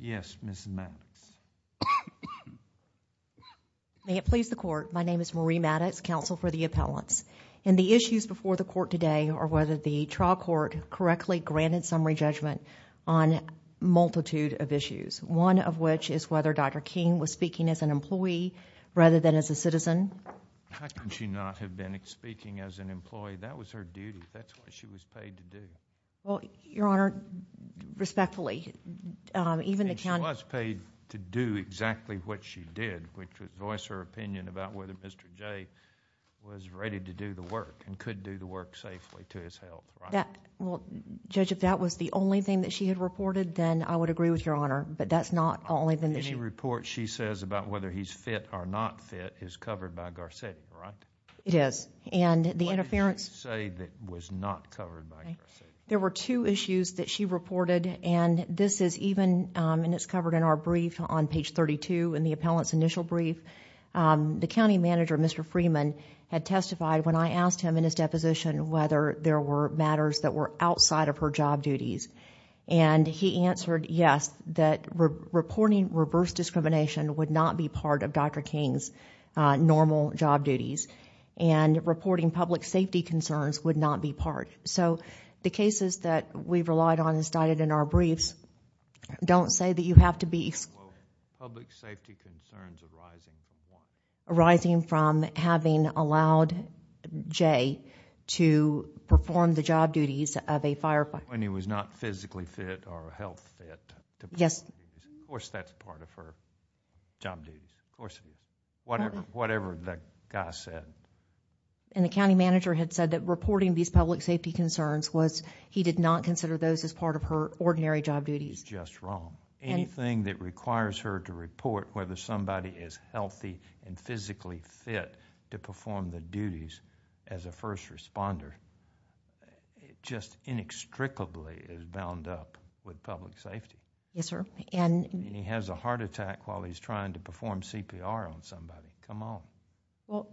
Yes, Ms. Maddox. May it please the Court, my name is Marie Maddox, counsel for the appellants. And the issues before the Court today are whether the trial court correctly granted summary judgment on a multitude of issues, one of which is whether Dr. King was speaking as an employee rather than as a citizen. How could she not have been speaking as an employee? That was her duty. That's what she was paid to do. Well, Your Honor, respectfully, even the county... And she was paid to do exactly what she did, which was voice her opinion about whether Mr. J. was ready to do the work and could do the work safely to his health, right? Well, Judge, if that was the only thing that she had reported, then I would agree with Your Honor. But that's not the only thing that she... Any report she says about whether he's fit or not fit is covered by Garcetti, right? It is. And the interference... What did she say that was not covered by Garcetti? There were two issues that she reported, and this is even, and it's covered in our brief on page 32 in the appellant's initial brief. The county manager, Mr. Freeman, had testified when I asked him in his deposition whether there were matters that were outside of her job duties. And he answered yes, that reporting reverse discrimination would not be part of Dr. King's normal job duties. And reporting public safety concerns would not be part. So the cases that we've relied on and cited in our briefs don't say that you have to be... Well, public safety concerns arising from what? Arising from having allowed J. to perform the job duties of a firefighter. When he was not physically fit or health fit to perform the duties. Yes. Of course that's part of her job duties. Of course it is. Whatever the guy said. And the county manager had said that reporting these public safety concerns was, he did not consider those as part of her ordinary job duties. Just wrong. Anything that requires her to report whether somebody is healthy and physically fit to perform the duties as a first responder, just inextricably is bound up with public safety. Yes, sir. He has a heart attack while he's trying to perform CPR on somebody. Come on. Well,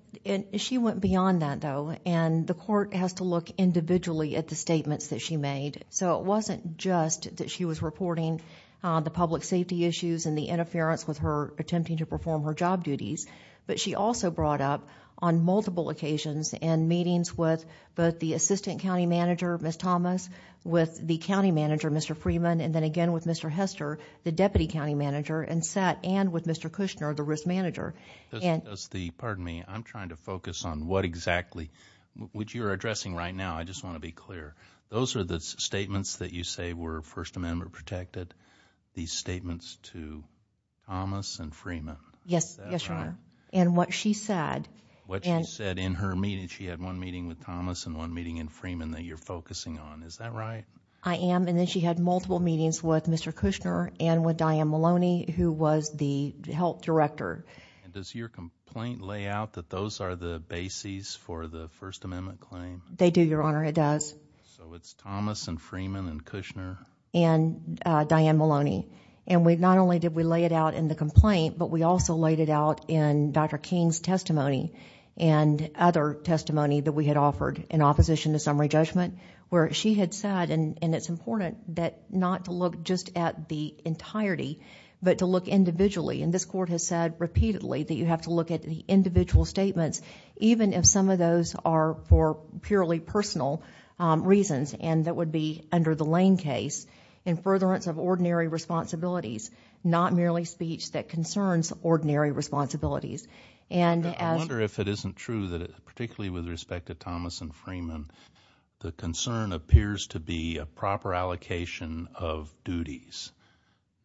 she went beyond that though. And the court has to look individually at the statements that she made. So it wasn't just that she was reporting the public safety issues and the interference with her attempting to perform her job duties. But she also brought up on multiple occasions and meetings with both the assistant county manager, Ms. Thomas, with the county manager, Mr. Freeman, and then again with Mr. Hester, the deputy county manager, and sat and with Mr. Kushner, the risk manager. Pardon me. I'm trying to focus on what exactly, what you're addressing right now. I just want to be clear. Those are the statements that you say were First Amendment protected? These statements to Thomas and Freeman? Yes. Yes, Your Honor. And what she said. What she said in her meeting. She said she had one meeting with Thomas and one meeting with Freeman that you're focusing on. Is that right? I am. And then she had multiple meetings with Mr. Kushner and with Diane Maloney, who was the health director. And does your complaint lay out that those are the bases for the First Amendment claim? They do, Your Honor. It does. So it's Thomas and Freeman and Kushner? And Diane Maloney. And not only did we lay it out in the complaint, but we also laid it out in Dr. King's testimony and other testimony that we had offered in opposition to summary judgment, where she had said, and it's important not to look just at the entirety, but to look individually. And this Court has said repeatedly that you have to look at the individual statements, even if some of those are for purely personal reasons and that would be under the Lane case, in furtherance of ordinary responsibilities, not merely speech that concerns ordinary responsibilities. I wonder if it isn't true that, particularly with respect to Thomas and Freeman, the concern appears to be a proper allocation of duties.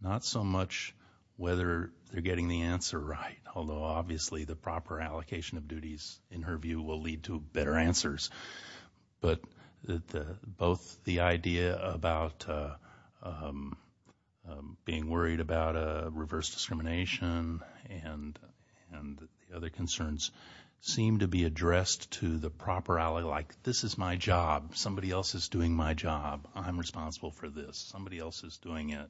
Not so much whether they're getting the answer right, although obviously the proper allocation of duties, in her view, will lead to better answers. But both the idea about being worried about reverse discrimination and the other concerns seem to be addressed to the proper ally, like, this is my job, somebody else is doing my job, I'm responsible for this, somebody else is doing it.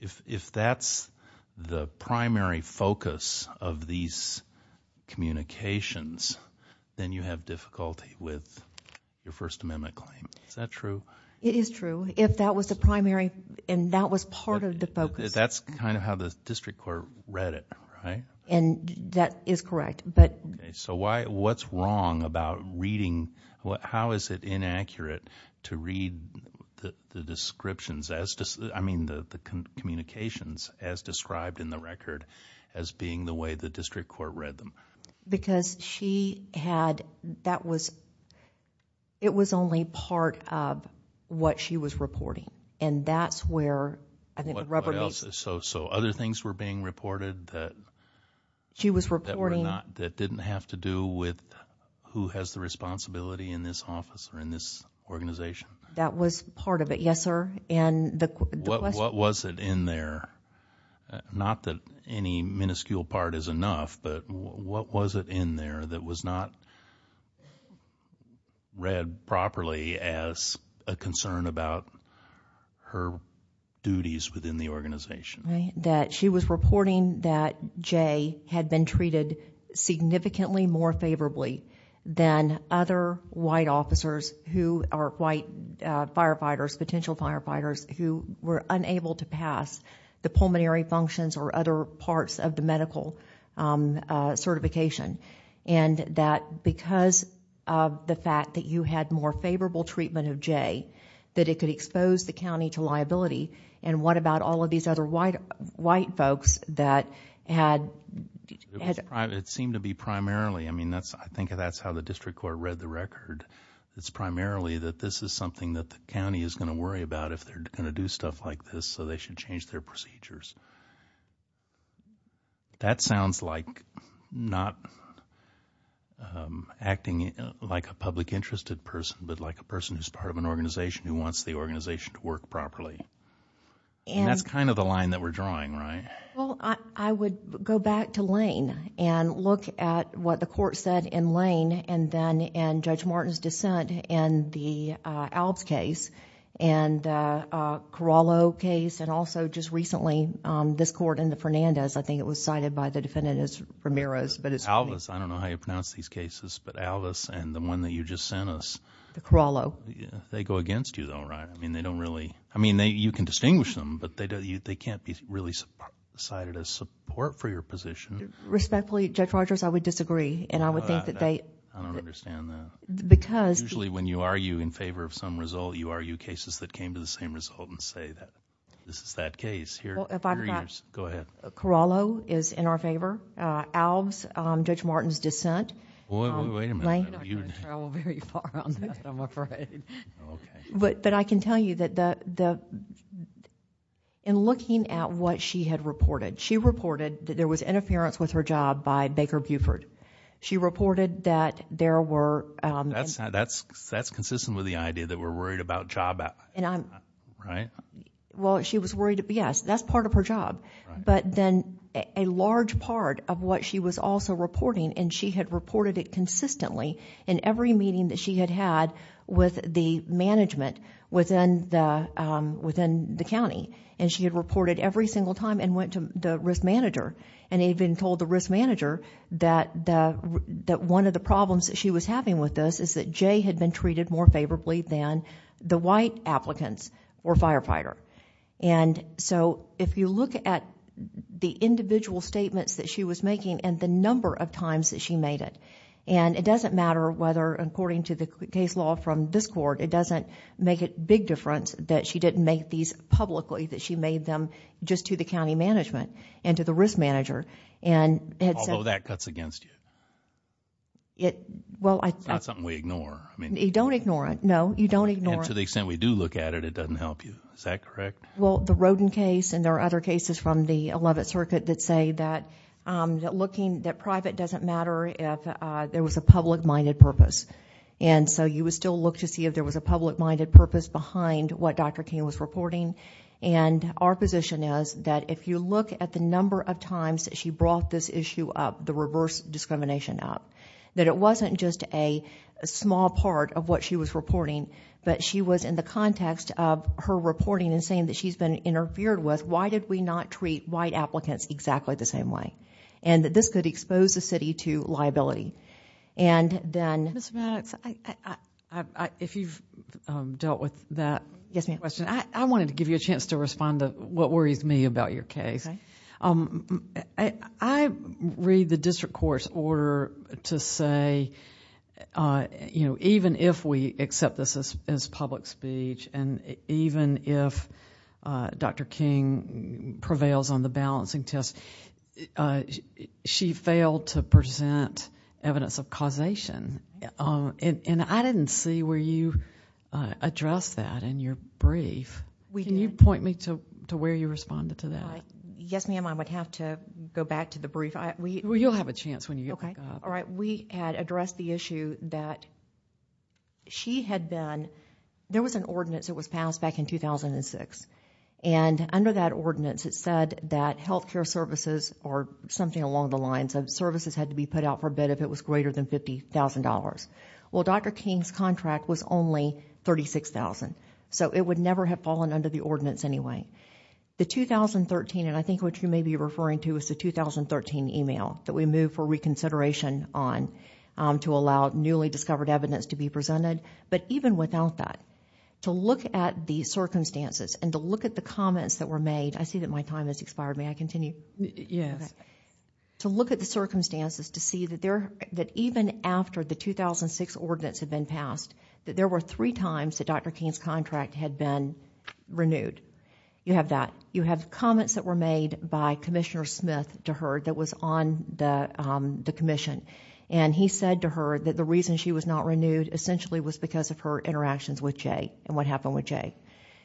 If that's the primary focus of these communications, then you have difficulty with your First Amendment claim. Is that true? It is true. If that was the primary, and that was part of the focus. That's kind of how the District Court read it, right? And that is correct. So what's wrong about reading? How is it inaccurate to read the descriptions, I mean the communications, as described in the record as being the way the District Court read them? Because she had, that was, it was only part of what she was reporting. And that's where, I think the rubber meets... So other things were being reported that... That were not, that didn't have to do with who has the responsibility in this office or in this organization? That was part of it, yes sir. What was it in there, not that any minuscule part is enough, but what was it in there that was not read properly as a concern about her duties within the organization? That she was reporting that Jay had been treated significantly more favorably than other white officers who are white firefighters, potential firefighters, who were unable to pass the pulmonary functions or other parts of the medical certification. And that because of the fact that you had more favorable treatment of Jay, that it could expose the county to liability, and what about all of these other white folks that had... It seemed to be primarily, I mean that's, I think that's how the District Court read the record. It's primarily that this is something that the county is going to worry about if they're going to do stuff like this, so they should change their procedures. That sounds like not acting like a public interested person, but like a person who's part of an organization who wants the organization to work properly. And that's kind of the line that we're drawing, right? Well, I would go back to Lane and look at what the court said in Lane, and then in Judge Martin's dissent in the Alves case, and Corallo case, and also just recently this court in the Fernandez. I think it was cited by the defendant as Ramirez, but it's... Alves, I don't know how you pronounce these cases, but Alves and the one that you just sent us... Corallo. They go against you though, right? I mean they don't really... I mean you can distinguish them, but they can't be really cited as support for your position. Respectfully, Judge Rogers, I would disagree, and I would think that they... I don't understand that. Because... Usually when you argue in favor of some result, you argue cases that came to the same result and say that this is that case. Well, if I'm not... Go ahead. Corallo is in our favor. Alves, Judge Martin's dissent... Wait a minute. I'm not going to travel very far on this, I'm afraid. Okay. But I can tell you that in looking at what she had reported, she reported that there was interference with her job by Baker Buford. She reported that there were... That's consistent with the idea that we're worried about job... And I'm... Right? Well, she was worried, yes, that's part of her job. Right. But then a large part of what she was also reporting, and she had reported it consistently in every meeting that she had had with the management within the county. And she had reported every single time and went to the risk manager. And they had been told, the risk manager, that one of the problems that she was having with this is that Jay had been treated more favorably than the white applicants or firefighter. And so if you look at the individual statements that she was making and the number of times that she made it. And it doesn't matter whether, according to the case law from this court, it doesn't make a big difference that she didn't make these publicly, that she made them just to the county management and to the risk manager. Although that cuts against you. It... It's not something we ignore. You don't ignore it. No, you don't ignore it. And to the extent we do look at it, it doesn't help you. Is that correct? Well, the Rodin case and there are other cases from the 11th Circuit that say that private doesn't matter if there was a public-minded purpose. And so you would still look to see if there was a public-minded purpose behind what Dr. King was reporting. And our position is that if you look at the number of times that she brought this issue up, the reverse discrimination up, that it wasn't just a small part of what she was reporting, but she was in the context of her reporting and saying that she's been interfered with. Why did we not treat white applicants exactly the same way? And that this could expose the city to liability. And then... Ms. Maddox, if you've dealt with that question, I wanted to give you a chance to respond to what worries me about your case. Okay. I read the district court's order to say even if we accept this as public speech and even if Dr. King prevails on the balancing test, she failed to present evidence of causation. And I didn't see where you addressed that in your brief. Can you point me to where you responded to that? Yes, ma'am. I would have to go back to the brief. Well, you'll have a chance when you get back up. All right. We had addressed the issue that she had been... There was an ordinance that was passed back in 2006, and under that ordinance it said that health care services or something along the lines of services had to be put out for bid if it was greater than $50,000. Well, Dr. King's contract was only $36,000, so it would never have fallen under the ordinance anyway. The 2013, and I think what you may be referring to, was the 2013 email that we moved for reconsideration on to allow newly discovered evidence to be presented. But even without that, to look at the circumstances and to look at the comments that were made... I see that my time has expired. May I continue? Yes. To look at the circumstances to see that even after the 2006 ordinance had been passed, that there were three times that Dr. King's contract had been renewed. You have that. You have comments that were made by Commissioner Smith to her that was on the commission, and he said to her that the reason she was not renewed essentially was because of her interactions with Jay and what happened with Jay.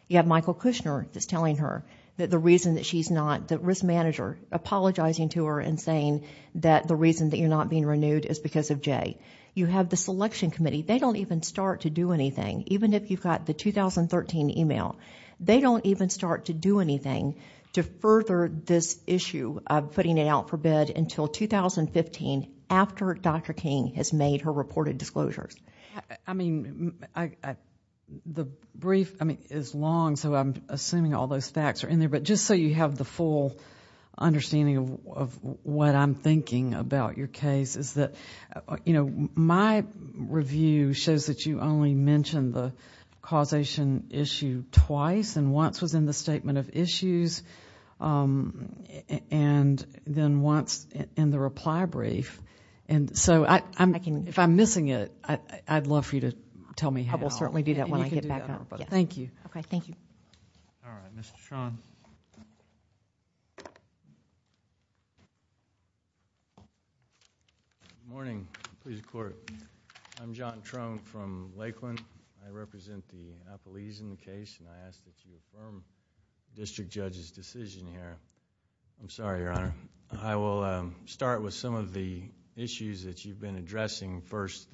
You have Michael Kushner that's telling her that the reason that she's not... the risk manager apologizing to her and saying that the reason that you're not being renewed is because of Jay. You have the selection committee. They don't even start to do anything, even if you've got the 2013 email. They don't even start to do anything to further this issue of putting it out for bid until 2015 after Dr. King has made her reported disclosures. The brief is long, so I'm assuming all those facts are in there, but just so you have the full understanding of what I'm thinking about your case is that... and once was in the statement of issues, and then once in the reply brief. If I'm missing it, I'd love for you to tell me how. I will certainly do that when I get back. Thank you. Okay, thank you. All right, Mr. Trone. Good morning. Please record. I'm John Trone from Lakeland. I represent the Appalachian case, and I ask that you affirm the district judge's decision here. I'm sorry, Your Honor. I will start with some of the issues that you've been addressing. First,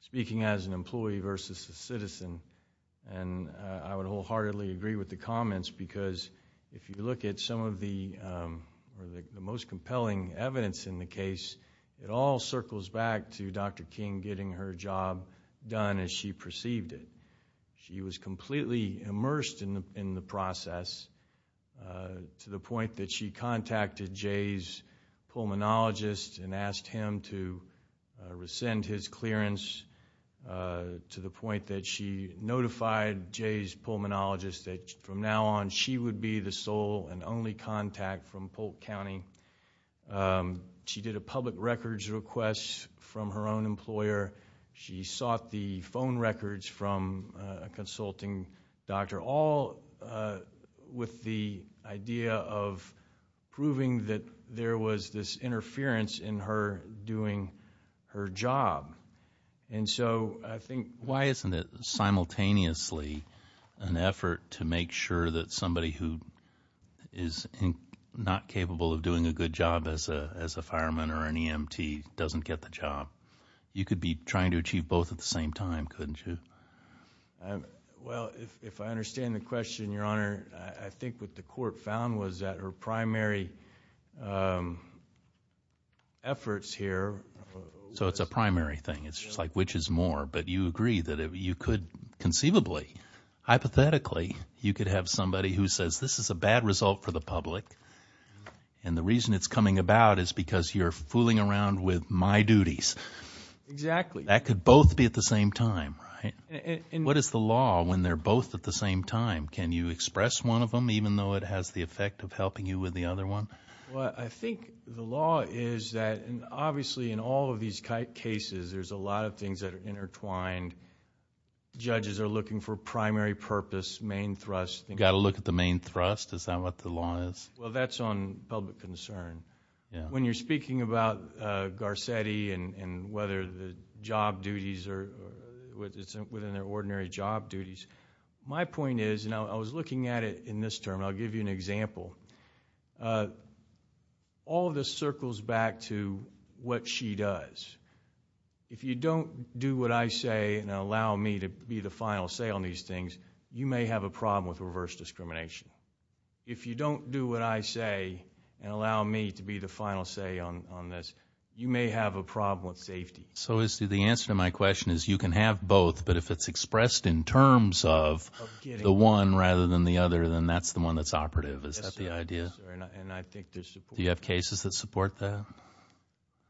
speaking as an employee versus a citizen, and I would wholeheartedly agree with the comments because if you look at some of the most compelling evidence in the case, it all circles back to Dr. King getting her job done as she perceived it. She was completely immersed in the process to the point that she contacted Jay's pulmonologist and asked him to rescind his clearance to the point that she notified Jay's pulmonologist that from now on she would be the sole and only contact from Polk County. She did a public records request from her own employer. She sought the phone records from a consulting doctor, all with the idea of proving that there was this interference in her doing her job. And so I think why isn't it simultaneously an effort to make sure that somebody who is not capable of doing a good job as a fireman or an EMT doesn't get the job? You could be trying to achieve both at the same time, couldn't you? Well, if I understand the question, Your Honor, I think what the court found was that her primary efforts here— So it's a primary thing. It's just like which is more, but you agree that you could conceivably, hypothetically, you could have somebody who says this is a bad result for the public and the reason it's coming about is because you're fooling around with my duties. Exactly. That could both be at the same time, right? What is the law when they're both at the same time? Can you express one of them even though it has the effect of helping you with the other one? Well, I think the law is that obviously in all of these cases there's a lot of things that are intertwined. Judges are looking for primary purpose, main thrust. You've got to look at the main thrust? Is that what the law is? Well, that's on public concern. When you're speaking about Garcetti and whether the job duties are within their ordinary job duties, my point is, and I was looking at it in this term, I'll give you an example. All of this circles back to what she does. If you don't do what I say and allow me to be the final say on these things, you may have a problem with reverse discrimination. If you don't do what I say and allow me to be the final say on this, you may have a problem with safety. So the answer to my question is you can have both, but if it's expressed in terms of the one rather than the other, then that's the one that's operative. Is that the idea? Do you have cases that support that?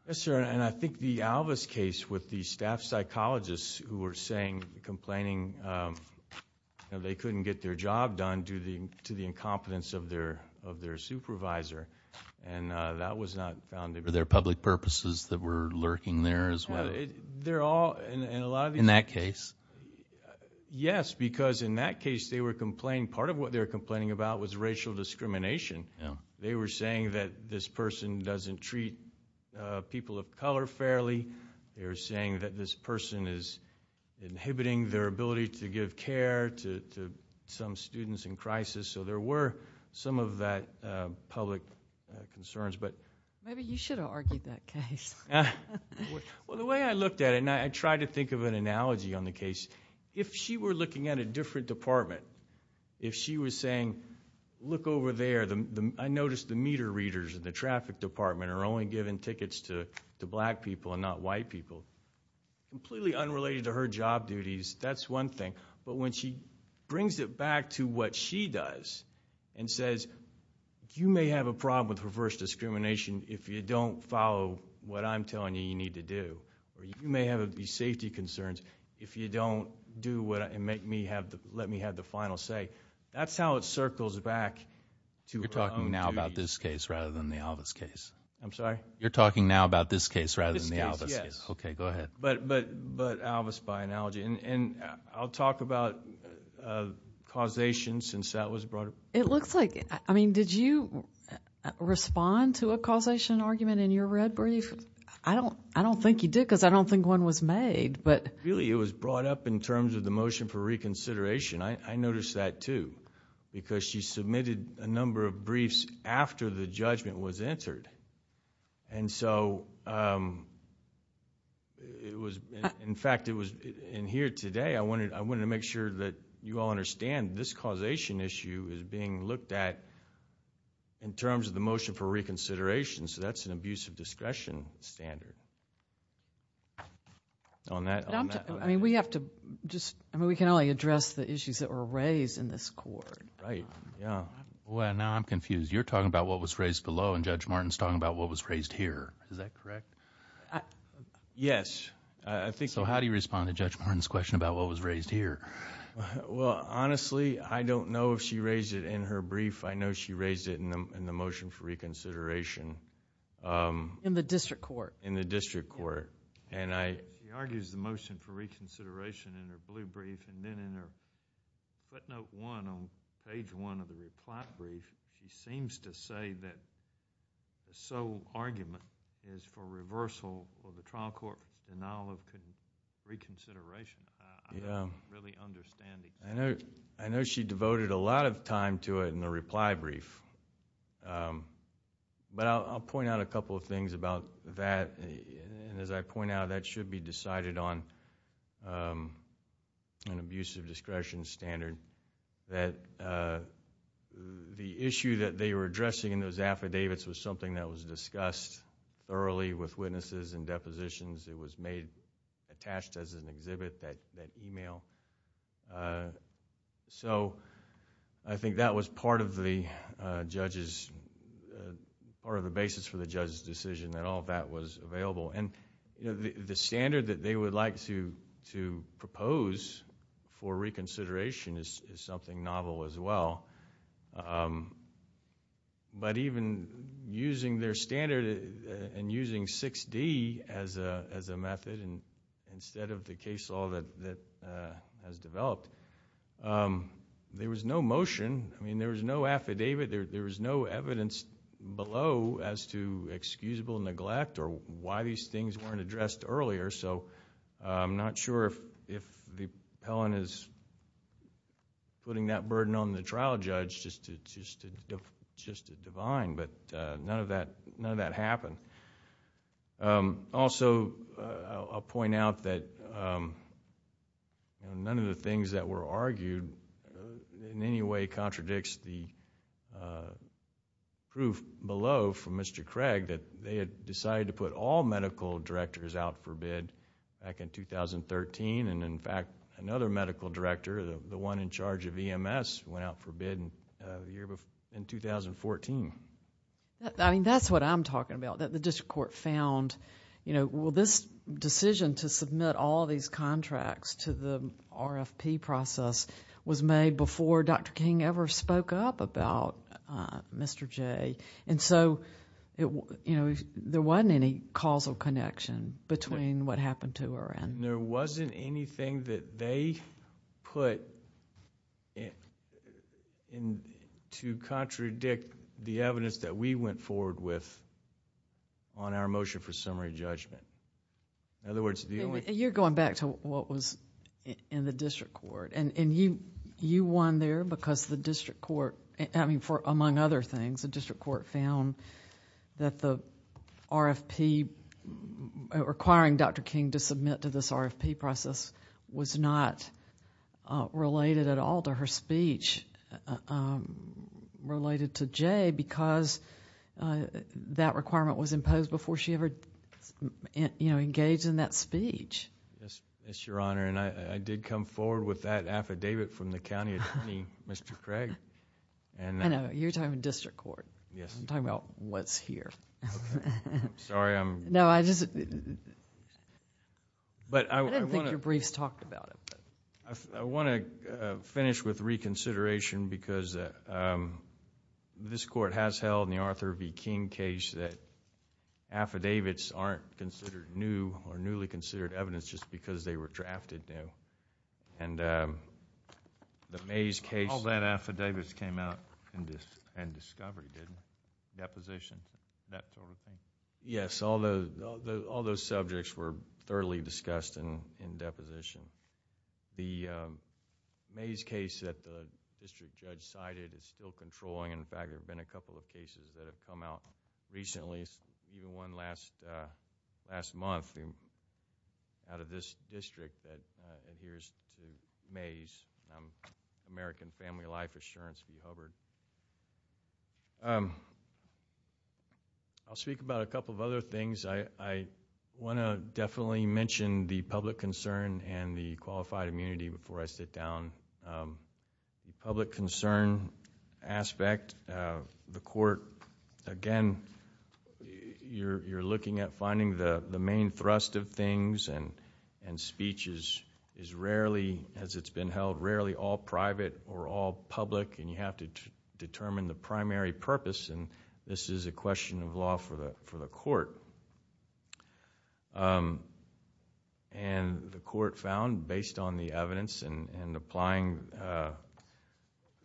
Yes, sir, and I think the Alvis case with the staff psychologists who were saying, complaining they couldn't get their job done due to the incompetence of their supervisor, and that was not found. Were there public purposes that were lurking there as well? In that case? Yes, because in that case they were complaining. Part of what they were complaining about was racial discrimination. They were saying that this person doesn't treat people of color fairly. They were saying that this person is inhibiting their ability to give care to some students in crisis. So there were some of that public concerns. Maybe you should have argued that case. Well, the way I looked at it, and I tried to think of an analogy on the case, if she were looking at a different department, if she was saying, look over there, I noticed the meter readers in the traffic department are only giving tickets to black people and not white people, completely unrelated to her job duties, that's one thing. But when she brings it back to what she does and says, you may have a problem with reverse discrimination if you don't follow what I'm telling you you need to do, or you may have safety concerns if you don't let me have the final say, that's how it circles back to her own duties. You're talking now about this case rather than the Alvis case? I'm sorry? You're talking now about this case rather than the Alvis case? This case, yes. Okay, go ahead. But Alvis by analogy, and I'll talk about causation since that was brought up. It looks like... I mean, did you respond to a causation argument in your red brief? I don't think you did because I don't think one was made, but... Really, it was brought up in terms of the motion for reconsideration. I noticed that, too, because she submitted a number of briefs after the judgment was entered. And so it was, in fact, it was in here today. I wanted to make sure that you all understand this causation issue is being looked at in terms of the motion for reconsideration. So that's an abuse of discretion standard. On that... I mean, we have to just... I mean, we can only address the issues that were raised in this court. Right, yeah. Boy, now I'm confused. You're talking about what was raised below, and Judge Martin's talking about what was raised here. Is that correct? Yes, I think... So how do you respond to Judge Martin's question about what was raised here? Well, honestly, I don't know if she raised it in her brief. I know she raised it in the motion for reconsideration. In the district court? In the district court. She argues the motion for reconsideration in her blue brief, and then in her footnote one on page one of the reply brief, she seems to say that the sole argument is for reversal for the trial court denial of reconsideration. I don't really understand it. I know she devoted a lot of time to it in the reply brief, but I'll point out a couple of things about that. As I point out, that should be decided on an abusive discretion standard. The issue that they were addressing in those affidavits was something that was discussed thoroughly with witnesses and depositions. It was attached as an exhibit, that email. I think that was part of the basis for the judge's decision that all of that was available. The standard that they would like to propose for reconsideration is something novel as well. Even using their standard and using 6D as a method instead of the case law that has developed, there was no motion. There was no affidavit. There was no evidence below as to excusable neglect or why these things weren't addressed earlier. I'm not sure if the appellant is putting that burden on the trial judge. It's just divine, but none of that happened. Also, I'll point out that none of the things that were argued in any way contradicts the proof below from Mr. Craig that they had decided to put all medical directors out for bid back in 2013. In fact, another medical director, the one in charge of EMS, went out for bid in 2014. That's what I'm talking about, that the district court found, well, this decision to submit all these contracts to the RFP process was made before Dr. King ever spoke up about Mr. J. There wasn't any causal connection between what happened to her and... There wasn't anything that they put to contradict the evidence that we went forward with on our motion for summary judgment. In other words, the only... You're going back to what was in the district court. You won there because the district court... Among other things, the district court found that the RFP, requiring Dr. King to submit to this RFP process, was not related at all to her speech related to J because that requirement was imposed before she ever engaged in that speech. Yes, Your Honor. I did come forward with that affidavit from the county attorney, Mr. Craig. I know. You're talking about district court. Yes. I'm talking about what's here. Okay. I'm sorry. I'm... No, I just... I didn't think your briefs talked about it. I want to finish with reconsideration because this court has held in the Arthur v. King case that affidavits aren't considered new or newly considered evidence just because they were drafted new. The Mays case... All that affidavit came out in discovery, didn't it? Deposition, that sort of thing? Yes. All those subjects were thoroughly discussed in deposition. The Mays case that the district judge cited is still controlling. In fact, there have been a couple of cases that have come out recently. one last month out of this district that adheres to Mays, American Family Life Assurance v. Hubbard. I'll speak about a couple of other things. I want to definitely mention the public concern and the qualified immunity before I sit down. The public concern aspect, the court... Again, you're looking at finding the main thrust of things and speech is rarely, as it's been held, rarely all private or all public and you have to determine the primary purpose and this is a question of law for the court. The court found, based on the evidence and applying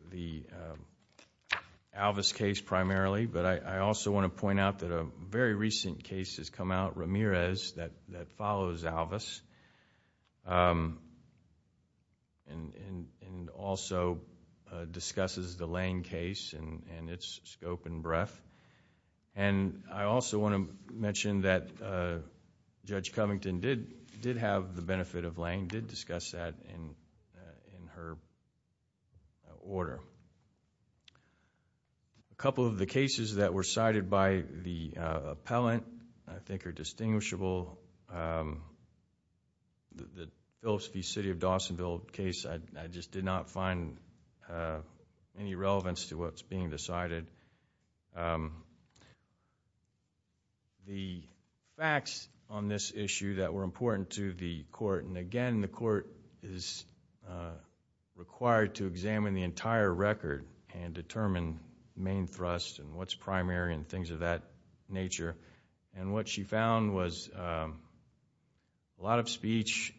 the Alvis case primarily, but I also want to point out that a very recent case has come out, Ramirez, that follows Alvis and also discusses the Lane case and its scope and breadth. I also want to mention that Judge Covington did have the benefit of Lane, did discuss that in her order. A couple of the cases that were cited by the appellant I think are distinguishable. The Phillips v. City of Dawsonville case, I just did not find any relevance to what's being decided. The facts on this issue that were important to the court, and again the court is required to examine the entire record and determine main thrust and what's primary and things of that nature, and what she found was a lot of speech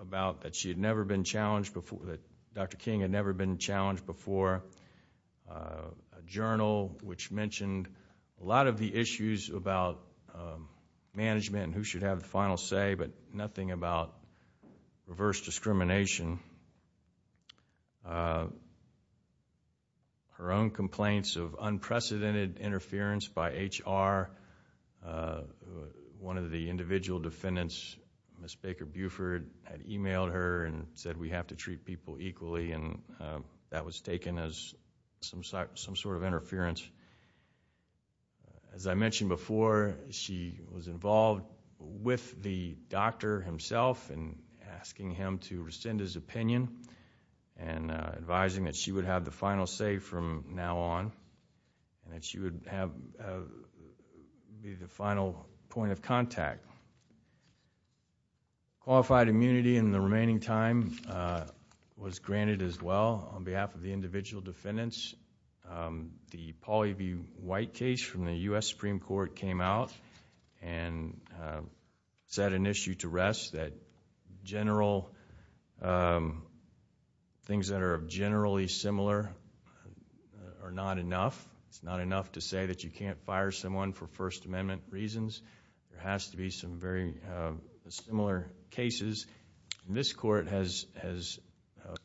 about that she had never been challenged before, that Dr. King had never been challenged before, a journal which mentioned a lot of the issues about management and who should have the final say, but nothing about reverse discrimination. Her own complaints of unprecedented interference by HR, one of the individual defendants, Ms. Baker Buford, had emailed her and said we have to treat people equally and that was taken as some sort of interference. As I mentioned before, she was involved with the doctor himself in asking him to rescind his opinion and advising that she would have the final say from now on, that she would be the final point of contact. Qualified immunity in the remaining time was granted as well on behalf of the individual defendants. The Paul E. B. White case from the U.S. Supreme Court came out and set an issue to rest that general things that are generally similar are not enough. It's not enough to say that you can't fire someone for First Amendment reasons. There has to be some very similar cases. This court has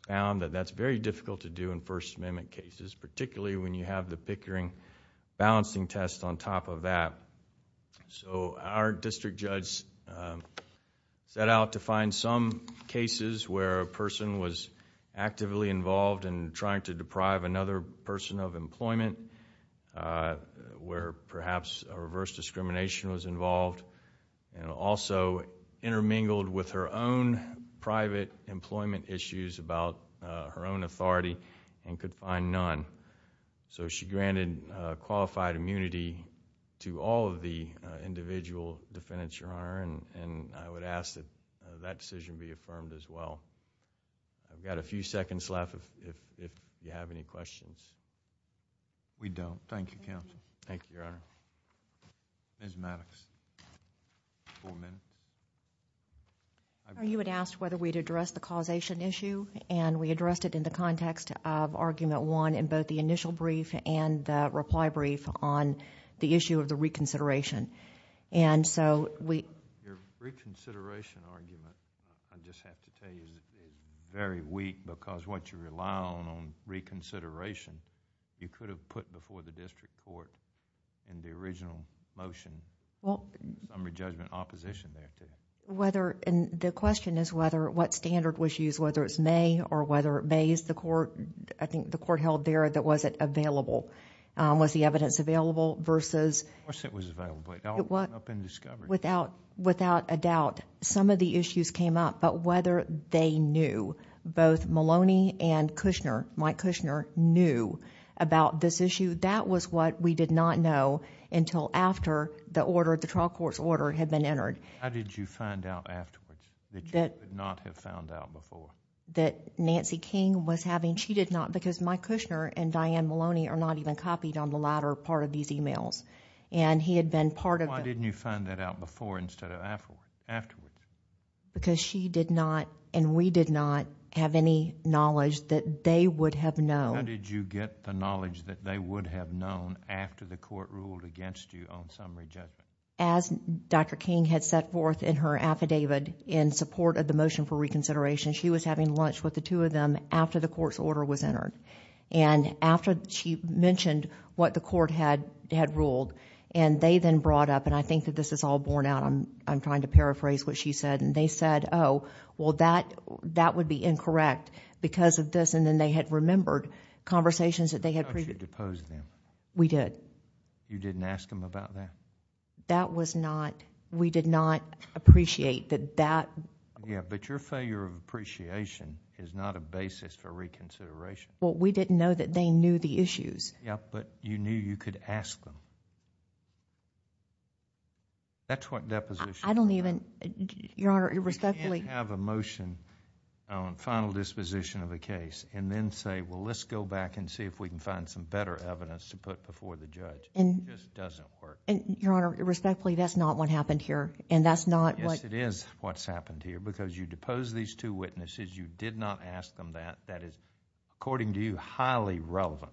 found that that's very difficult to do in First Amendment cases, particularly when you have the Pickering balancing test on top of that. Our district judge set out to find some cases where a person was actively involved in trying to deprive another person of employment, where perhaps a reverse discrimination was involved and also intermingled with her own private employment issues about her own authority and could find none. She granted qualified immunity to all of the individual defendants, and I would ask that that decision be affirmed as well. I've got a few seconds left if you have any questions. We don't. Thank you, Counsel. Thank you, Your Honor. Ms. Maddox. You had asked whether we'd address the causation issue, and we addressed it in the context of Argument 1 in both the initial brief and the reply brief on the issue of the reconsideration. Your reconsideration argument, I just have to tell you, is very weak because what you rely on on reconsideration, you could have put before the district court in the original motion, summary judgment opposition there. The question is what standard was used, whether it's May or whether May is the court... I think the court held there that was it available. Was the evidence available versus... Of course it was available, but it all went up in discovery. Without a doubt, some of the issues came up, but whether they knew, both Maloney and Kushner, Mike Kushner, knew about this issue, that was what we did not know until after the order, the trial court's order had been entered. How did you find out afterwards that you would not have found out before? That Nancy King was having... She did not because Mike Kushner and Diane Maloney are not even copied on the latter part of these emails. He had been part of... Why didn't you find that out before instead of afterwards? Because she did not, and we did not, have any knowledge that they would have known. How did you get the knowledge that they would have known after the court ruled against you on summary judgment? As Dr. King had set forth in her affidavit in support of the motion for reconsideration, she was having lunch with the two of them after the court's order was entered. After she mentioned what the court had ruled, they then brought up... I think that this is all borne out. I'm trying to paraphrase what she said. They said, oh, well, that would be incorrect because of this. Then they had remembered conversations that they had... How did you depose them? We did. You didn't ask them about that? That was not... We did not appreciate that that... Yes, but your failure of appreciation is not a basis for reconsideration. Well, we didn't know that they knew the issues. Yes, but you knew you could ask them. That's what deposition... I don't even... Your Honor, respectfully... You can't have a motion on final disposition of a case and then say, well, let's go back and see if we can find some better evidence to put before the judge. It just doesn't work. Your Honor, respectfully, that's not what happened here, and that's not what... Because you deposed these two witnesses, you did not ask them that. That is, according to you, highly relevant.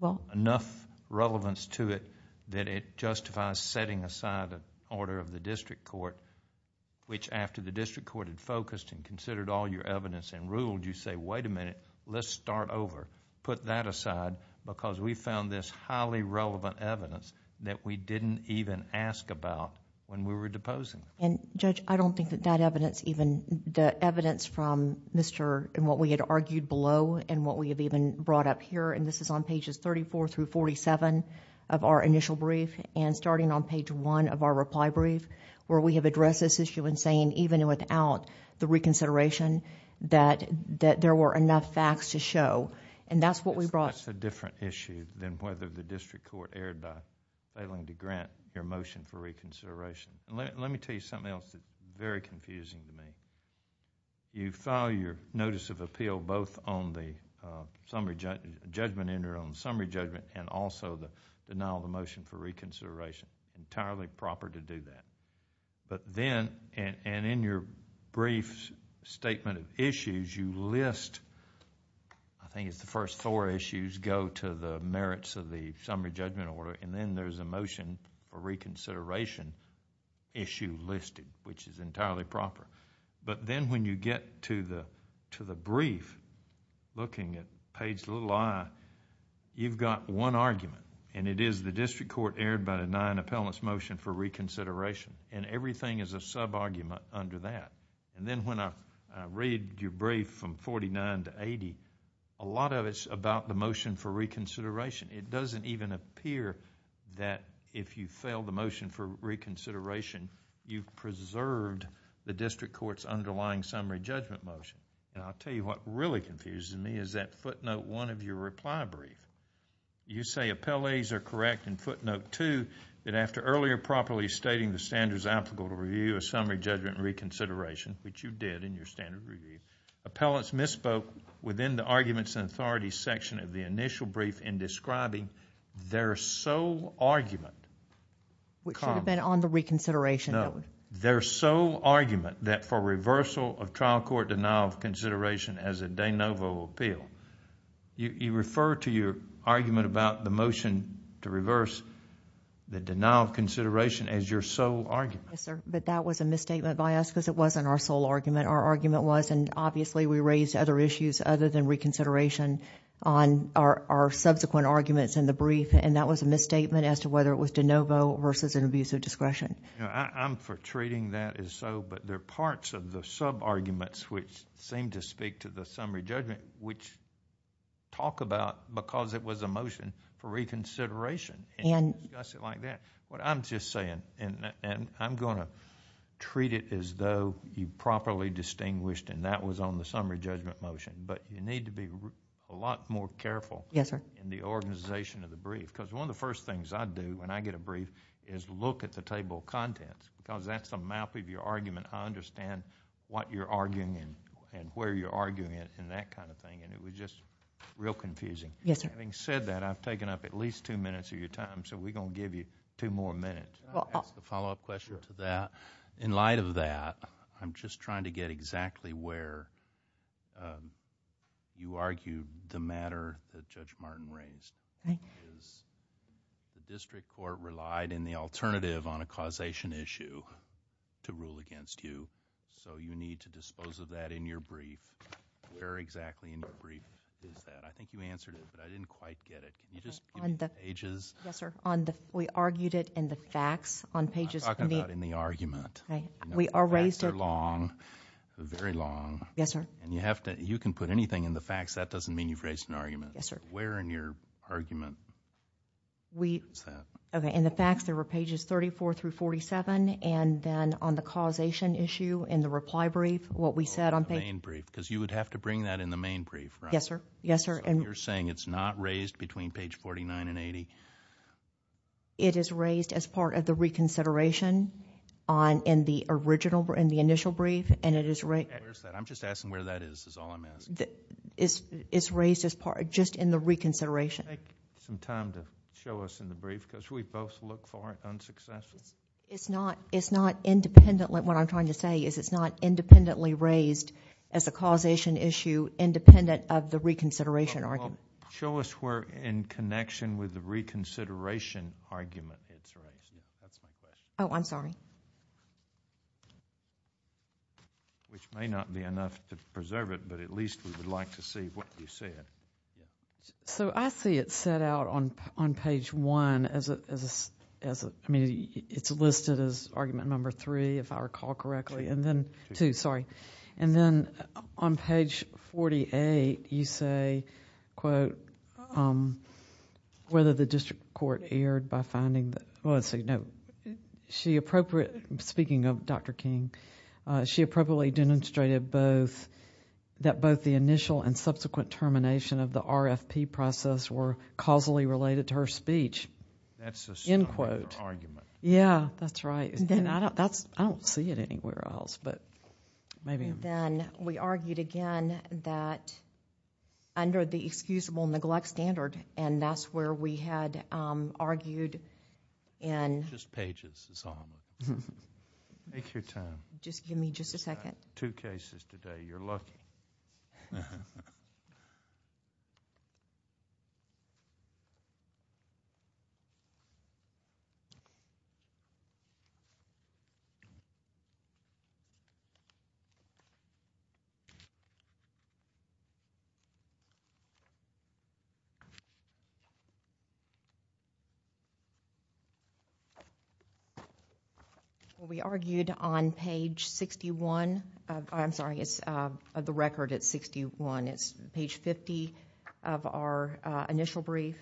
Well... Enough relevance to it that it justifies setting aside the order of the district court, which after the district court had focused and considered all your evidence and ruled, you say, wait a minute, let's start over. Put that aside because we found this highly relevant evidence that we didn't even ask about when we were deposing. Judge, I don't think that that evidence even... The evidence from Mr.... and what we had argued below and what we have even brought up here, and this is on pages thirty-four through forty-seven of our initial brief and starting on page one of our reply brief, where we have addressed this issue in saying even without the reconsideration that there were enough facts to show, and that's what we brought... That's a different issue than whether the district court erred by failing to grant your motion for reconsideration. Let me tell you something else that's very confusing to me. You file your notice of appeal both on the summary judgment and also the denial of the motion for reconsideration. Entirely proper to do that. But then, and in your brief statement of issues, you list, I think it's the first four issues, go to the merits of the summary judgment order, and then there's a motion for reconsideration issue listed, which is entirely proper. But then when you get to the brief, looking at page little i, you've got one argument, and it is the district court erred by denying appellant's motion for reconsideration, and everything is a sub-argument under that. And then when I read your brief from forty-nine to eighty, a lot of it's about the motion for reconsideration. It doesn't even appear that if you fail the motion for reconsideration, you've preserved the district court's underlying summary judgment motion. And I'll tell you what really confuses me is that footnote one of your reply brief. You say appellees are correct in footnote two, that after earlier properly stating the standards applicable to review a summary judgment reconsideration, which you did in your standard review, appellants misspoke within the arguments and authorities section of the initial brief in describing their sole argument. Which should have been on the reconsideration. No, their sole argument that for reversal of trial court denial of consideration as a de novo appeal. You refer to your argument about the motion to reverse the denial of consideration as your sole argument. Yes, sir, but that was a misstatement by us because it wasn't our sole argument. Our argument was, and obviously we raised other issues other than reconsideration on our subsequent arguments in the brief. And that was a misstatement as to whether it was de novo versus an abuse of discretion. I'm for treating that as so, but there are parts of the sub-arguments which seem to speak to the summary judgment, which talk about because it was a motion for reconsideration. And discuss it like that. What I'm just saying, and I'm going to treat it as though you properly distinguished and that was on the summary judgment motion. But you need to be a lot more careful in the organization of the brief. Because one of the first things I do when I get a brief is look at the table of contents. Because that's the mouth of your argument. I understand what you're arguing and where you're arguing it and that kind of thing. And it was just real confusing. Having said that, I've taken up at least two minutes of your time. So we're going to give you two more minutes. Can I ask a follow-up question to that? In light of that, I'm just trying to get exactly where you argue the matter that Judge Martin raised. The district court relied in the alternative on a causation issue to rule against you. So you need to dispose of that in your brief. Where exactly in your brief is that? I think you answered it, but I didn't quite get it. Can you just give me the pages? Yes, sir. We argued it in the facts on pages. I'm talking about in the argument. The facts are long, very long. Yes, sir. You can put anything in the facts. That doesn't mean you've raised an argument. Where in your argument is that? In the facts, there were pages 34 through 47. And then on the causation issue in the reply brief, what we said on page— The main brief. Because you would have to bring that in the main brief, right? Yes, sir. So you're saying it's not raised between page 49 and 80? It is raised as part of the reconsideration in the initial brief, and it is— Where is that? I'm just asking where that is, is all I'm asking. It's raised just in the reconsideration. Take some time to show us in the brief because we both look for it unsuccessfully. It's not independently—what I'm trying to say is it's not independently raised as a causation issue independent of the reconsideration argument. Show us where in connection with the reconsideration argument it's raised. That's my question. Oh, I'm sorry. Which may not be enough to preserve it, but at least we would like to see what you said. So I see it set out on page 1 as a— I mean, it's listed as argument number 3, if I recall correctly, and then— 2. 2, sorry. And then on page 48, you say, quote, whether the district court erred by finding that— Speaking of Dr. King, she appropriately demonstrated that both the initial and subsequent termination of the RFP process were causally related to her speech, end quote. That's a stronger argument. Yeah, that's right. I don't see it anywhere else, but maybe I'm— Then we argued again that under the excusable neglect standard, and that's where we had argued in— Just pages is all. Make your time. Just give me just a second. Two cases today. You're lucky. Thank you. We argued on page 61. I'm sorry, it's the record at 61. It's page 50 of our initial brief.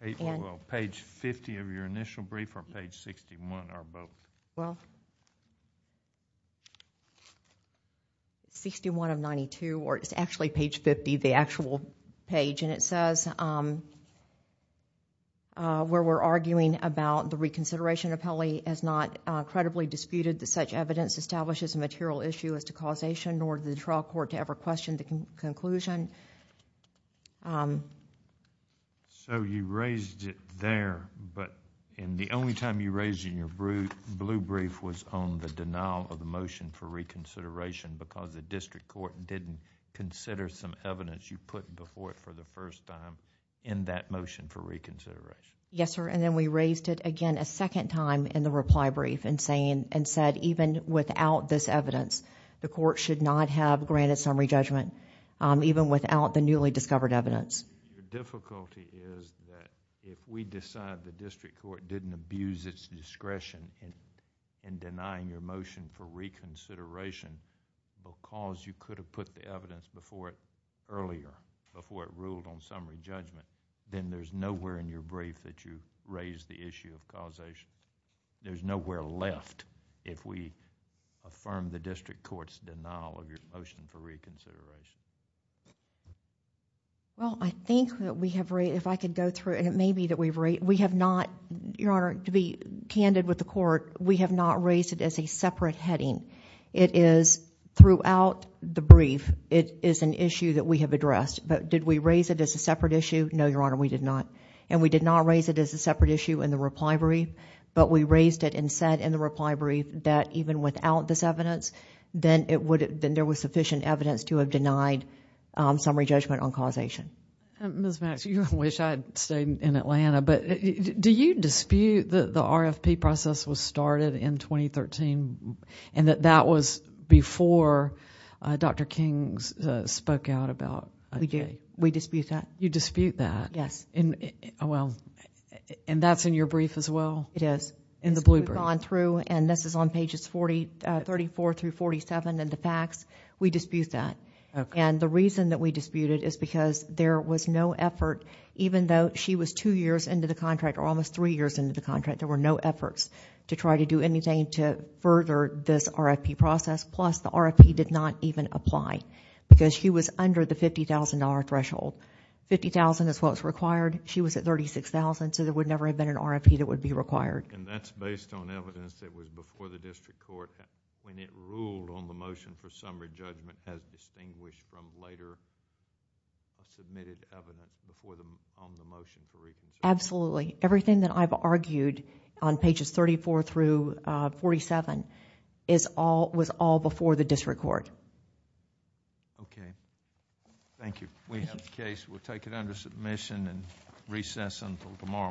Page 50 of your initial brief or page 61, our book? 61 of 92, or it's actually page 50, the actual page, and it says where we're arguing about the reconsideration appellee has not credibly disputed that such evidence establishes a material issue as to causation, nor did the trial court ever question the conclusion. You raised it there, but the only time you raised it in your blue brief was on the denial of the motion for reconsideration because the district court didn't consider some evidence you put before it for the first time in that motion for reconsideration. Yes, sir, and then we raised it again a second time in the reply brief and said even without this evidence, the court should not have granted summary judgment even without the newly discovered evidence. The difficulty is that if we decide the district court didn't abuse its discretion in denying your motion for reconsideration because you could have put the evidence before it earlier, before it ruled on summary judgment, then there's nowhere in your brief that you raised the issue of causation. There's nowhere left if we affirm the district court's denial of your motion for reconsideration. Well, I think that we have raised, if I could go through, and it may be that we have not, Your Honor, to be candid with the court, we have not raised it as a separate heading. It is throughout the brief, it is an issue that we have addressed, but did we raise it as a separate issue? No, Your Honor, we did not, and we did not raise it as a separate issue in the reply brief, but we raised it and said in the reply brief that even without this evidence, then there was sufficient evidence to have denied summary judgment on causation. Ms. Maxwell, I wish I had stayed in Atlanta, but do you dispute that the RFP process was started in 2013 and that that was before Dr. King spoke out about it? We dispute that. You dispute that? Yes. Well, and that's in your brief as well? It is. In the blue brief. We've gone through, and this is on pages 34 through 47 in the facts. We dispute that. Okay. And the reason that we dispute it is because there was no effort, even though she was two years into the contract or almost three years into the contract, there were no efforts to try to do anything to further this RFP process, plus the RFP did not even apply because she was under the $50,000 threshold. $50,000 is what was required. She was at $36,000, so there would never have been an RFP that would be required. And that's based on evidence that was before the district court when it ruled on the motion for summary judgment as distinguished from later submitted evidence on the motion for reconsideration. Absolutely. Everything that I've argued on pages 34 through 47 was all before the district court. Okay. Thank you. We have the case. We'll take it under submission and recess until tomorrow morning.